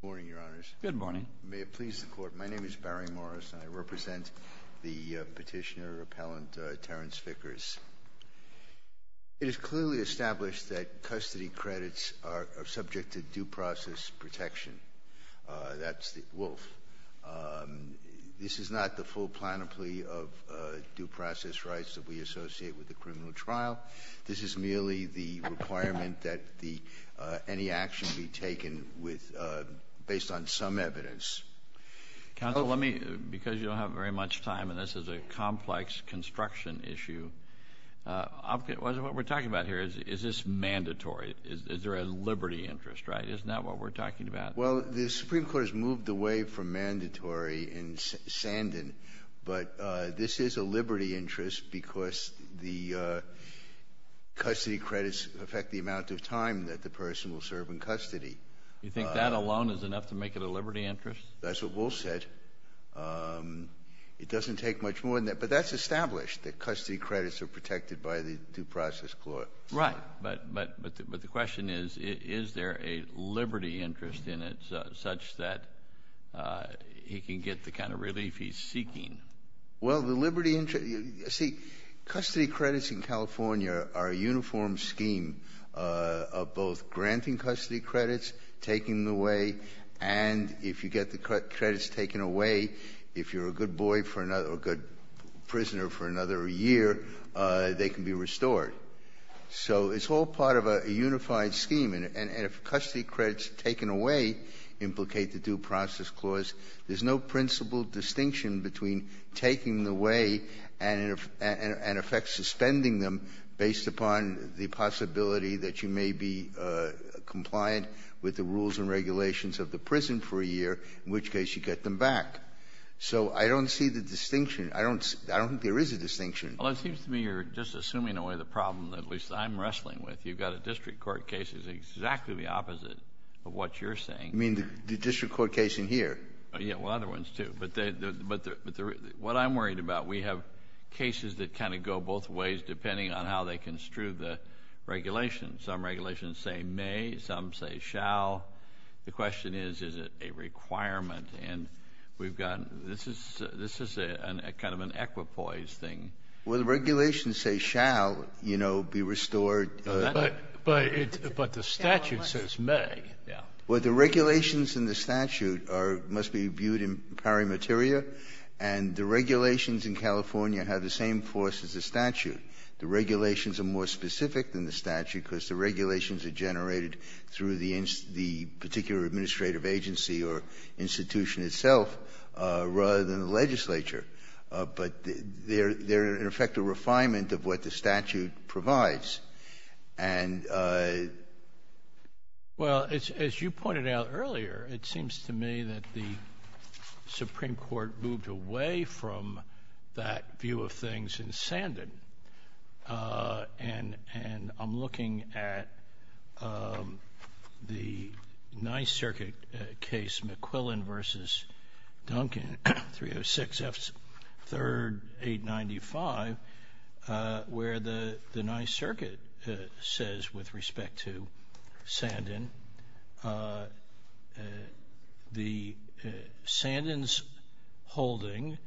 Good morning, Your Honors. Good morning. May it please the Court. My name is Barry Morris, and I represent the petitioner-appellant, Tarrance Vickers. It is clearly established that custody credits are subject to due process protection. That's the wolf. This is not the full plan of plea of due process rights that we associate with the criminal trial. This is merely the requirement that any action be taken based on some evidence. Counsel, let me, because you don't have very much time and this is a complex construction issue, what we're talking about here, is this mandatory? Is there a liberty interest, right? Isn't that what we're talking about? Well, the Supreme Court has moved away from mandatory in Sandon, but this is a liberty interest because the custody credits affect the amount of time that the person will serve in custody. You think that alone is enough to make it a liberty interest? That's what Wolf said. It doesn't take much more than that, but that's established, that custody credits are protected by the due process court. Right. But the question is, is there a liberty interest in it such that he can get the kind of relief he's seeking? Well, the liberty interest you see, custody credits in California are a uniform scheme of both granting custody credits, taking them away, and if you get the credits taken away, if you're a good boy for another or a good prisoner for another year, they can be restored. So it's all part of a unified scheme. And if custody credits taken away implicate the due process clause, there's no principal distinction between taking them away and in effect suspending them based upon the possibility that you may be compliant with the rules and regulations of the prison for a year, in which case you get them back. So I don't see the distinction. I don't think there is a distinction. Well, it seems to me you're just assuming away the problem that at least I'm wrestling with. You've got a district court case that's exactly the opposite of what you're saying. You mean the district court case in here? Yeah. Well, other ones, too. But the real one, what I'm worried about, we have cases that kind of go both ways depending on how they construe the regulations. Some regulations say may, some say shall. The question is, is it a requirement? And we've got this is a kind of an equipoise thing. Well, the regulations say shall, you know, be restored. But the statute says may. Yeah. Well, the regulations in the statute must be viewed in pari materia. And the regulations in California have the same force as the statute. The regulations are more specific than the statute because the regulations are generated through the particular administrative agency or institution itself rather than the legislature. But they're, in effect, a refinement of what the statute provides. And well, as you pointed out earlier, it seems to me that the Supreme Court moved away from that view of things in Sandin. And I'm looking at the Ninth Circuit case, McQuillan versus Duncan, 306 F. 3rd, 895, where the Ninth Circuit says, with respect to Sandin, the Sandin's holding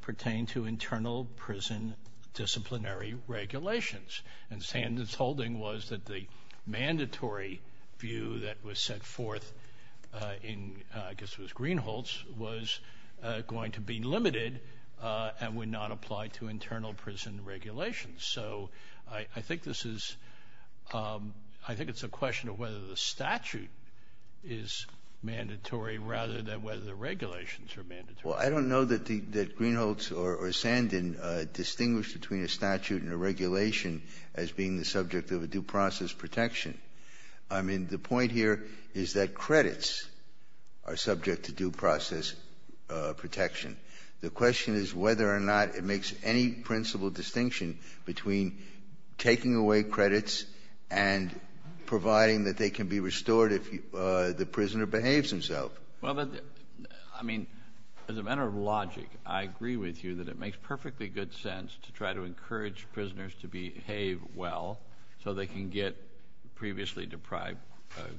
pertained to internal prison disciplinary regulations. And Sandin's holding was that the mandatory view that was set forth in, I guess it was limited and would not apply to internal prison regulations. So I think this is — I think it's a question of whether the statute is mandatory rather than whether the regulations are mandatory. Well, I don't know that the — that Greenholz or Sandin distinguished between a statute and a regulation as being the subject of a due process protection. I mean, the point here is that credits are subject to due process protection. The question is whether or not it makes any principal distinction between taking away credits and providing that they can be restored if the prisoner behaves himself. Well, but, I mean, as a matter of logic, I agree with you that it makes perfectly good sense to try to encourage prisoners to behave well so they can get previously deprived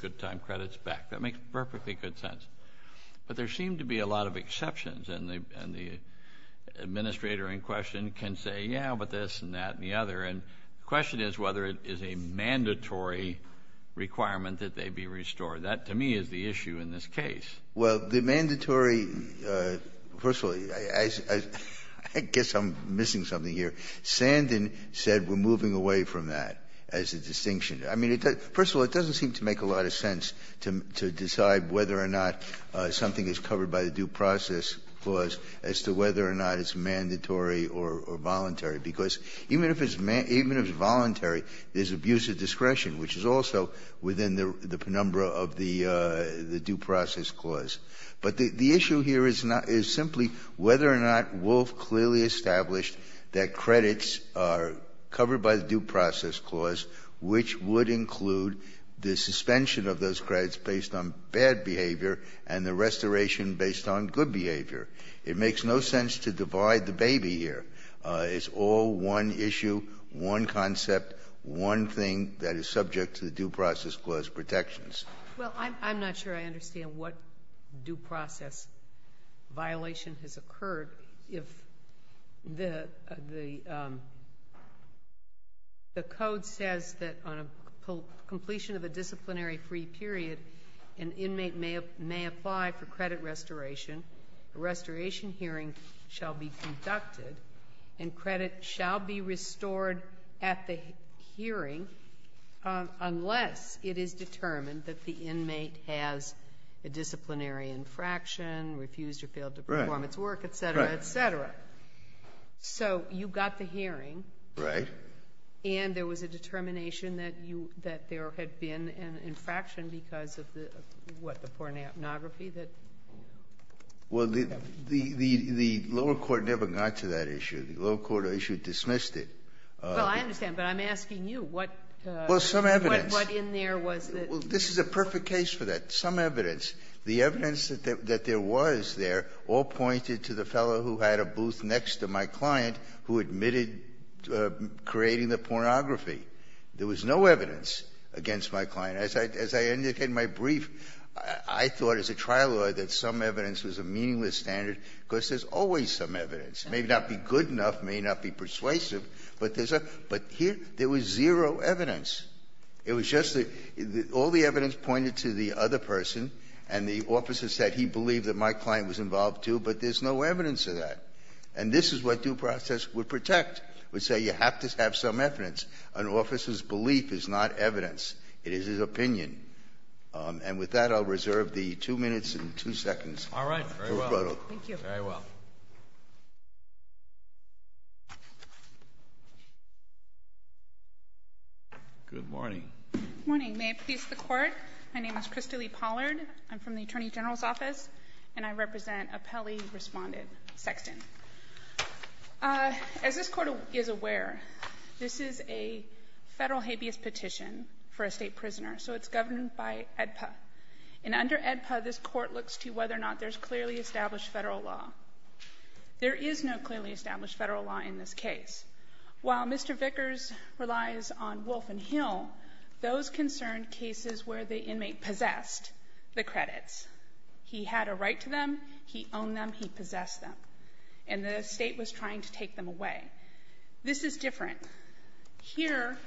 good-time credits back. That makes perfectly good sense. But there seem to be a lot of exceptions, and the — and the administrator in question can say, yeah, but this and that and the other. And the question is whether it is a mandatory requirement that they be restored. That, to me, is the issue in this case. Well, the mandatory — first of all, I guess I'm missing something here. Sandin said we're moving away from that as a distinction. I mean, it doesn't — first of all, it doesn't seem to make a lot of sense to — to say whether or not something is covered by the due process clause as to whether or not it's mandatory or voluntary, because even if it's — even if it's voluntary, there's abuse of discretion, which is also within the penumbra of the due process clause. But the issue here is not — is simply whether or not Wolf clearly established that credits are covered by the due process clause, which would include the suspension of those credits based on bad behavior and the restoration based on good behavior. It makes no sense to divide the baby here. It's all one issue, one concept, one thing that is subject to the due process clause protections. Well, I'm not sure I understand what due process violation has occurred if the — the code says that on a — completion of a disciplinary free period, an inmate may — may apply for credit restoration, a restoration hearing shall be conducted, and credit shall be restored at the hearing unless it is determined that the inmate has a disciplinary infraction, refused or failed to perform its work, et cetera, et cetera. So you've got the hearing. Right. And there was a determination that you — that there had been an infraction because of the — what, the pornography that — Well, the — the lower court never got to that issue. The lower court issue dismissed it. Well, I understand. But I'm asking you, what — Well, some evidence. What in there was that — Well, this is a perfect case for that. Some evidence. The evidence that there was there all pointed to the fellow who had a booth next to my client who admitted creating the pornography. There was no evidence against my client. As I — as I indicated in my brief, I thought as a trial lawyer that some evidence was a meaningless standard because there's always some evidence. It may not be good enough, may not be persuasive, but there's a — but here, there was zero evidence. It was just the — all the evidence pointed to the other person, and the officer said he believed that my client was involved, too, but there's no evidence of that. And this is what due process would protect, would say you have to have some evidence. An officer's belief is not evidence. It is his opinion. And with that, I'll reserve the 2 minutes and 2 seconds. All right. Very well. Thank you. Very well. Good morning. Good morning. May it please the Court. My name is Christalee Pollard. I'm from the Attorney General's office, and I represent a Pelley-respondent in Sexton. As this Court is aware, this is a Federal habeas petition for a State prisoner, so it's governed by AEDPA. And under AEDPA, this Court looks to whether or not there's clearly established Federal law. There is no clearly established Federal law in this case. While Mr. Vickers relies on Wolf and Hill, those concern cases where the inmate possessed the credits. He had a right to them. He owned them. He possessed them. And the State was trying to take them away. This is different. Here,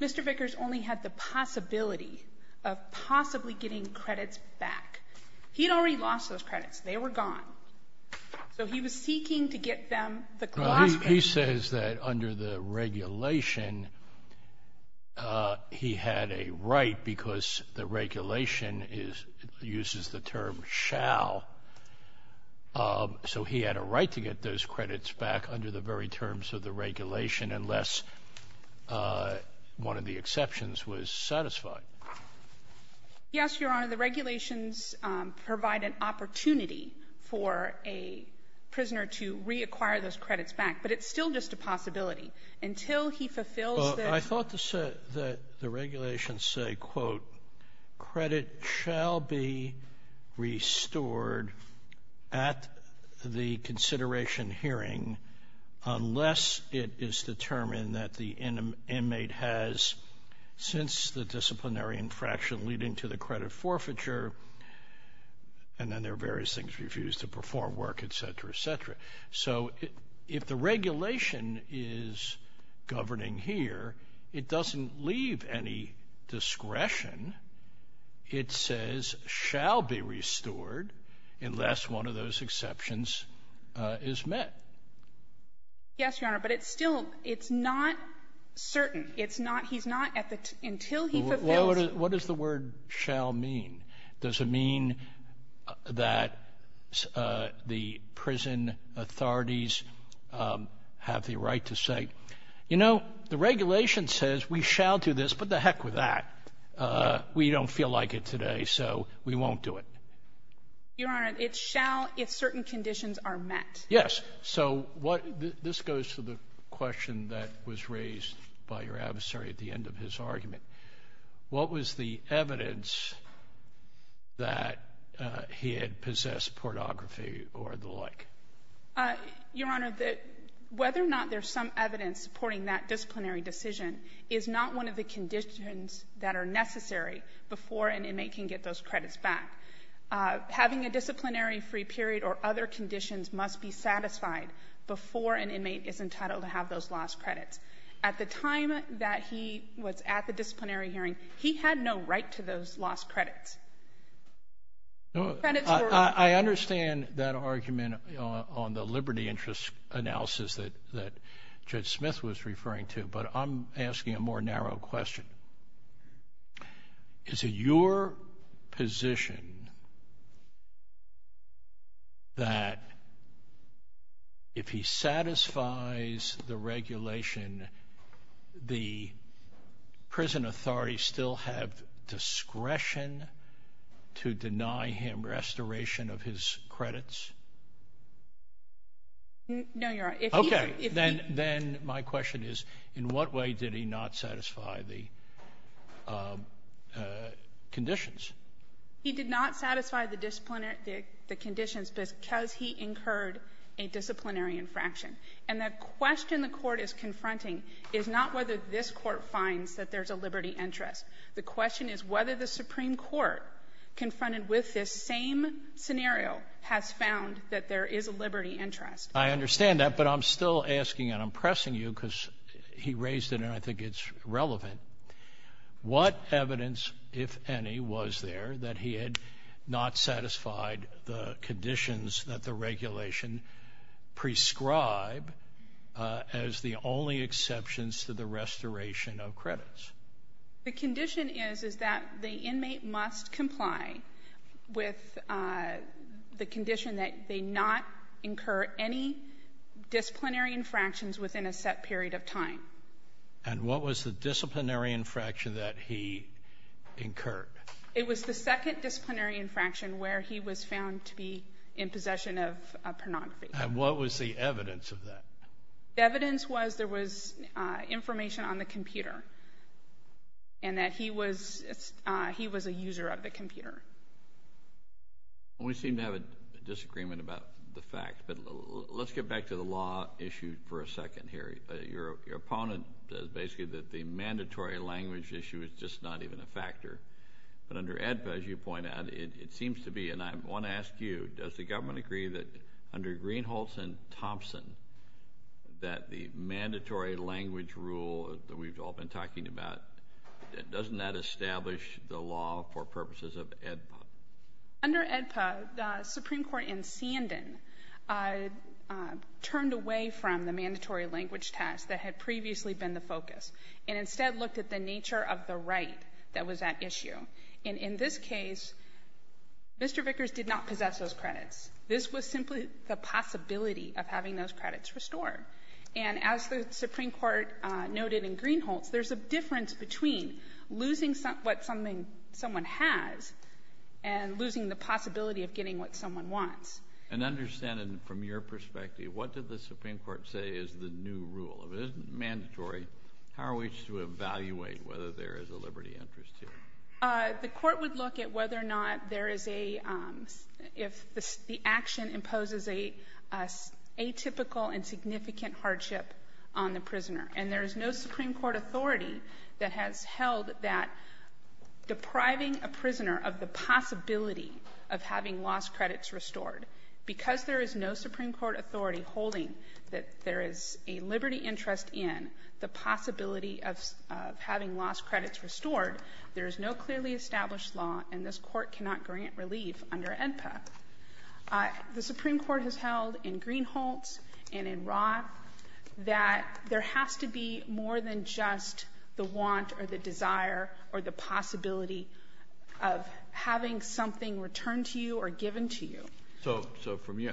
Mr. Vickers only had the possibility of possibly getting credits back. He'd already lost those credits. They were gone. So he was seeking to get them, the glossary. He says that under the regulation, he had a right, because the regulation is used as the term shall. So he had a right to get those credits back under the very terms of the regulation unless one of the exceptions was satisfied. Yes, Your Honor. The regulations provide an opportunity for a prisoner to reacquire those credits back, but it's still just a possibility. Until he fulfills the ---- I thought that the regulations say, quote, credit shall be restored at the consideration hearing unless it is determined that the inmate has, since the disciplinary infraction leading to the credit forfeiture, and then there are various things, refused to perform work, et cetera, et cetera. So if the regulation is governing here, it doesn't leave any discretion. It says shall be restored unless one of those exceptions is met. Yes, Your Honor. But it's still not certain. It's not he's not at the ---- until he fulfills ---- What does the word shall mean? Does it mean that the prison authorities have the right to say, you know, the regulation says we shall do this, but the heck with that. We don't feel like it today, so we won't do it. Your Honor, it's shall if certain conditions are met. Yes. So what ---- this goes to the question that was raised by your adversary at the end of his argument. What was the evidence that he had possessed pornography or the like? Your Honor, whether or not there's some evidence supporting that disciplinary decision is not one of the conditions that are necessary before an inmate can get those credits back. Having a disciplinary free period or other conditions must be satisfied before an inmate is entitled to have those lost credits. At the time that he was at the disciplinary hearing, he had no right to those lost credits. No, I understand that argument on the liberty interest analysis that Judge Smith was referring to, but I'm asking a more narrow question. Is it your position that if he satisfies the regulation, the prison authorities still have discretion to deny him restoration of his credits? No, Your Honor. Okay. Then my question is, in what way did he not satisfy the conditions? He did not satisfy the disciplinary ---- the conditions because he incurred a disciplinary infraction. And the question the Court is confronting is not whether this Court finds that there's a liberty interest. The question is whether the Supreme Court, confronted with this same scenario, has found that there is a liberty interest. I understand that, but I'm still asking, and I'm pressing you, because he raised it, and I think it's relevant. What evidence, if any, was there that he had not satisfied the conditions that the regulation prescribed as the only exceptions to the restoration of credits? The condition is, is that the inmate must comply with the condition that they not incur any disciplinary infractions within a set period of time. And what was the disciplinary infraction that he incurred? It was the second disciplinary infraction where he was found to be in possession of pornography. And what was the evidence of that? The evidence was there was information on the computer, and that he was a user of the computer. We seem to have a disagreement about the fact, but let's get back to the law issue for a second here. Your opponent says basically that the mandatory language issue is just not even a factor. But under AEDPA, as you point out, it seems to be, and I want to ask you, does the government agree that under Greenholz and Thompson, that the mandatory language rule that we've all been talking about, doesn't that establish the law for purposes of AEDPA? Under AEDPA, the Supreme Court in Sandon turned away from the mandatory language task that had previously been the focus, and instead looked at the nature of the right that was at issue. And in this case, Mr. Vickers did not possess those credits. This was simply the possibility of having those credits restored. And as the Supreme Court noted in Greenholz, there's a difference between losing what someone has and losing the possibility of getting what someone wants. And understanding from your perspective, what did the Supreme Court say is the new rule? If it isn't mandatory, how are we to evaluate whether there is a liberty interest here? The court would look at whether or not there is a, if the action imposes an atypical and significant hardship on the prisoner. And there is no Supreme Court authority that has held that depriving a prisoner of the possibility of having lost credits restored, because there is no Supreme Court authority holding that there is a liberty interest in the possibility of having lost credits restored, there is no clearly established law, and this Court cannot grant relief under AEDPA. The Supreme Court has held in Greenholz and in Roth that there has to be more than just the want or the desire or the possibility of having something returned to you or given to you. So from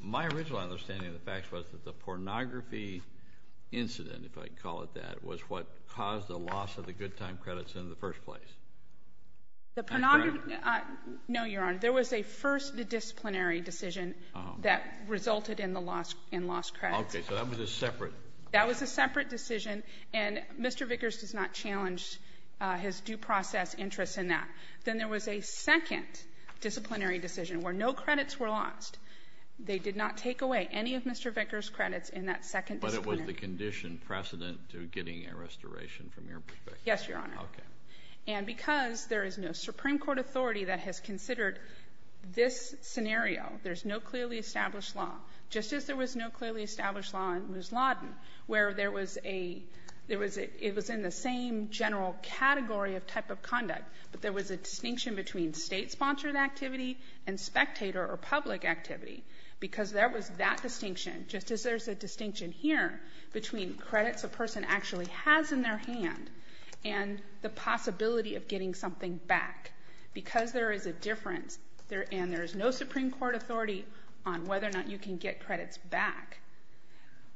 my original understanding of the facts was that the pornography incident, if I can call it that, was what caused the loss of the good time credits in the first place. The pornography — That's right. No, Your Honor. There was a first disciplinary decision that resulted in the loss, in lost credits. Okay. So that was a separate — That was a separate decision, and Mr. Vickers does not challenge his due process interests in that. Then there was a second disciplinary decision where no credits were lost. They did not take away any of Mr. Vickers' credits in that second disciplinary — But it was the condition precedent to getting a restoration from your perspective. Yes, Your Honor. Okay. And because there is no Supreme Court authority that has considered this scenario, there's no clearly established law, just as there was no clearly established law in Ms. Lawton where there was a — it was in the same general category of type of conduct, but there was a distinction between State-sponsored activity and spectator or public activity, because there was that distinction, just as there's a distinction here between credits a person actually has in their hand and the possibility of getting something back. Because there is a difference, and there is no Supreme Court authority on whether or not you can get credits back,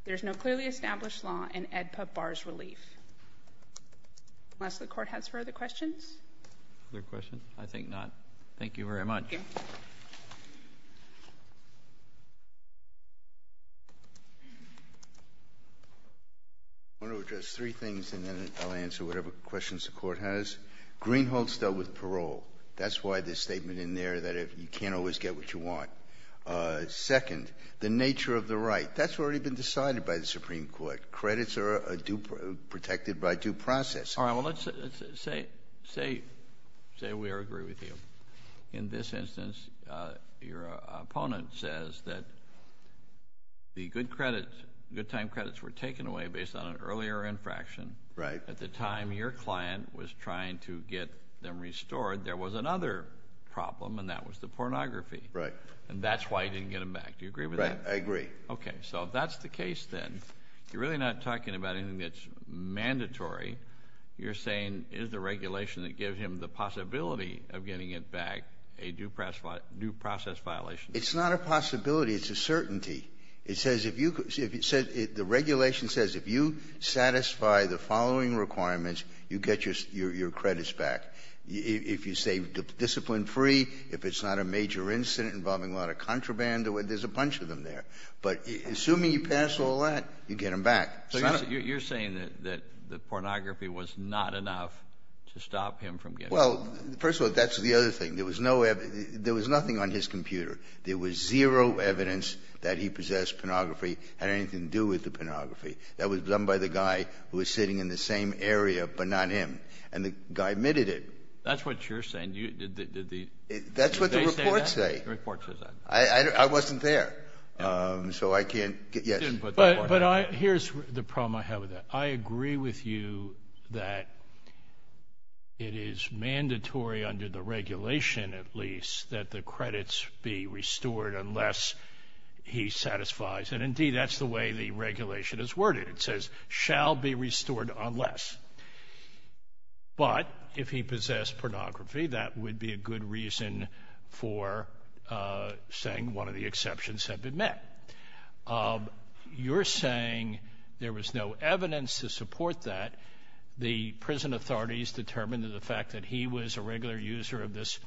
there's no clearly established law in EDPA bars relief. Unless the Court has further questions? Other questions? I think not. Thank you very much. Thank you. I want to address three things, and then I'll answer whatever questions the Court has. Greenhold's dealt with parole. That's why the statement in there that you can't always get what you want. Second, the nature of the right. That's already been decided by the Supreme Court. Credits are protected by due process. All right. Well, let's say we all agree with you. In this instance, your opponent says that the good time credits were taken away based on an earlier infraction. Right. At the time your client was trying to get them restored, there was another problem, and that was the pornography. Right. And that's why you didn't get them back. Do you agree with that? I agree. OK. So if that's the case, then, you're really not talking about anything that's mandatory. You're saying, is the regulation that gives him the possibility of getting it back a due process violation? It's not a possibility. It's a certainty. It says, if you could, the regulation says, if you satisfy the following requirements, you get your credits back. If you say discipline-free, if it's not a major incident involving a lot of contraband, there's a bunch of them there. But assuming you pass all that, you get them back. So you're saying that the pornography was not enough to stop him from getting it back? Well, first of all, that's the other thing. There was nothing on his computer. There was zero evidence that he possessed pornography, had anything to do with the pornography. That was done by the guy who was sitting in the same area, but not him. And the guy admitted it. That's what you're saying. That's what the reports say. The report says that. I wasn't there. So I can't get, yes. But here's the problem I have with that. I agree with you that it is mandatory under the regulation, at least, that the credits be restored unless he satisfies. And indeed, that's the way the regulation is worded. It says, shall be restored unless. But if he possessed pornography, that would be a good reason for saying one of the exceptions have been met. You're saying there was no evidence to support that. The prison authorities determined that the fact that he was a regular user of this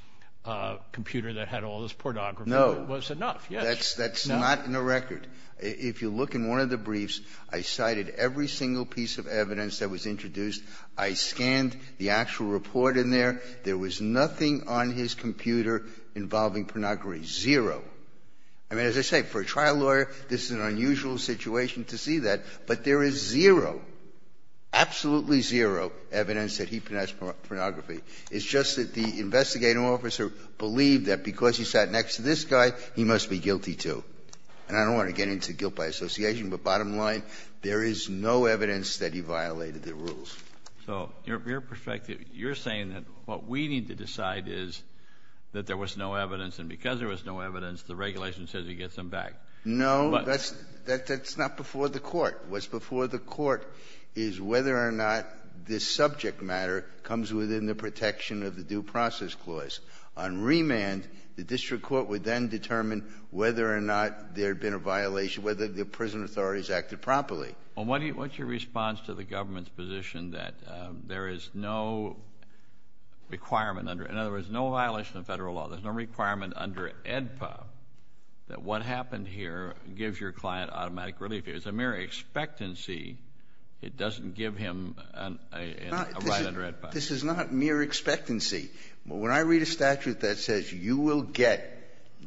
computer that had all this pornography was enough. No. That's not in the record. If you look in one of the briefs, I cited every single piece of evidence that was introduced. I scanned the actual report in there. There was nothing on his computer involving pornography. Zero. I mean, as I say, for a trial lawyer, this is an unusual situation to see that. But there is zero, absolutely zero evidence that he possessed pornography. It's just that the investigating officer believed that because he sat next to this guy, he must be guilty, too. And I don't want to get into guilt by association, but bottom line, there is no evidence that he violated the rules. So your perspective, you're saying that what we need to decide is that there was no evidence, the regulation says he gets them back. No, that's not before the court. What's before the court is whether or not this subject matter comes within the protection of the due process clause. On remand, the district court would then determine whether or not there had been a violation, whether the prison authorities acted properly. Well, what's your response to the government's position that there is no requirement under, in other words, no violation of federal law, there's no requirement under AEDPA that what happened here gives your client automatic relief. It's a mere expectancy. It doesn't give him a right under AEDPA. This is not mere expectancy. When I read a statute that says you will get,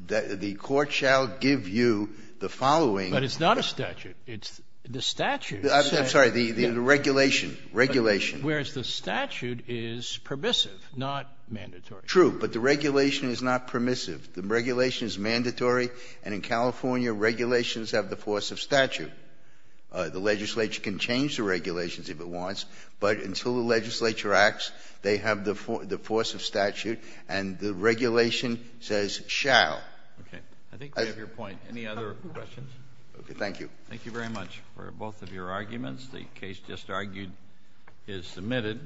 the court shall give you the following But it's not a statute. It's the statute. I'm sorry, the regulation, regulation. Whereas the statute is permissive, not mandatory. True, but the regulation is not permissive. The regulation is mandatory, and in California, regulations have the force of statute. The legislature can change the regulations if it wants, but until the legislature acts, they have the force of statute, and the regulation says shall. Okay. I think we have your point. Any other questions? Okay. Thank you. Thank you very much for both of your arguments. The case just argued is submitted.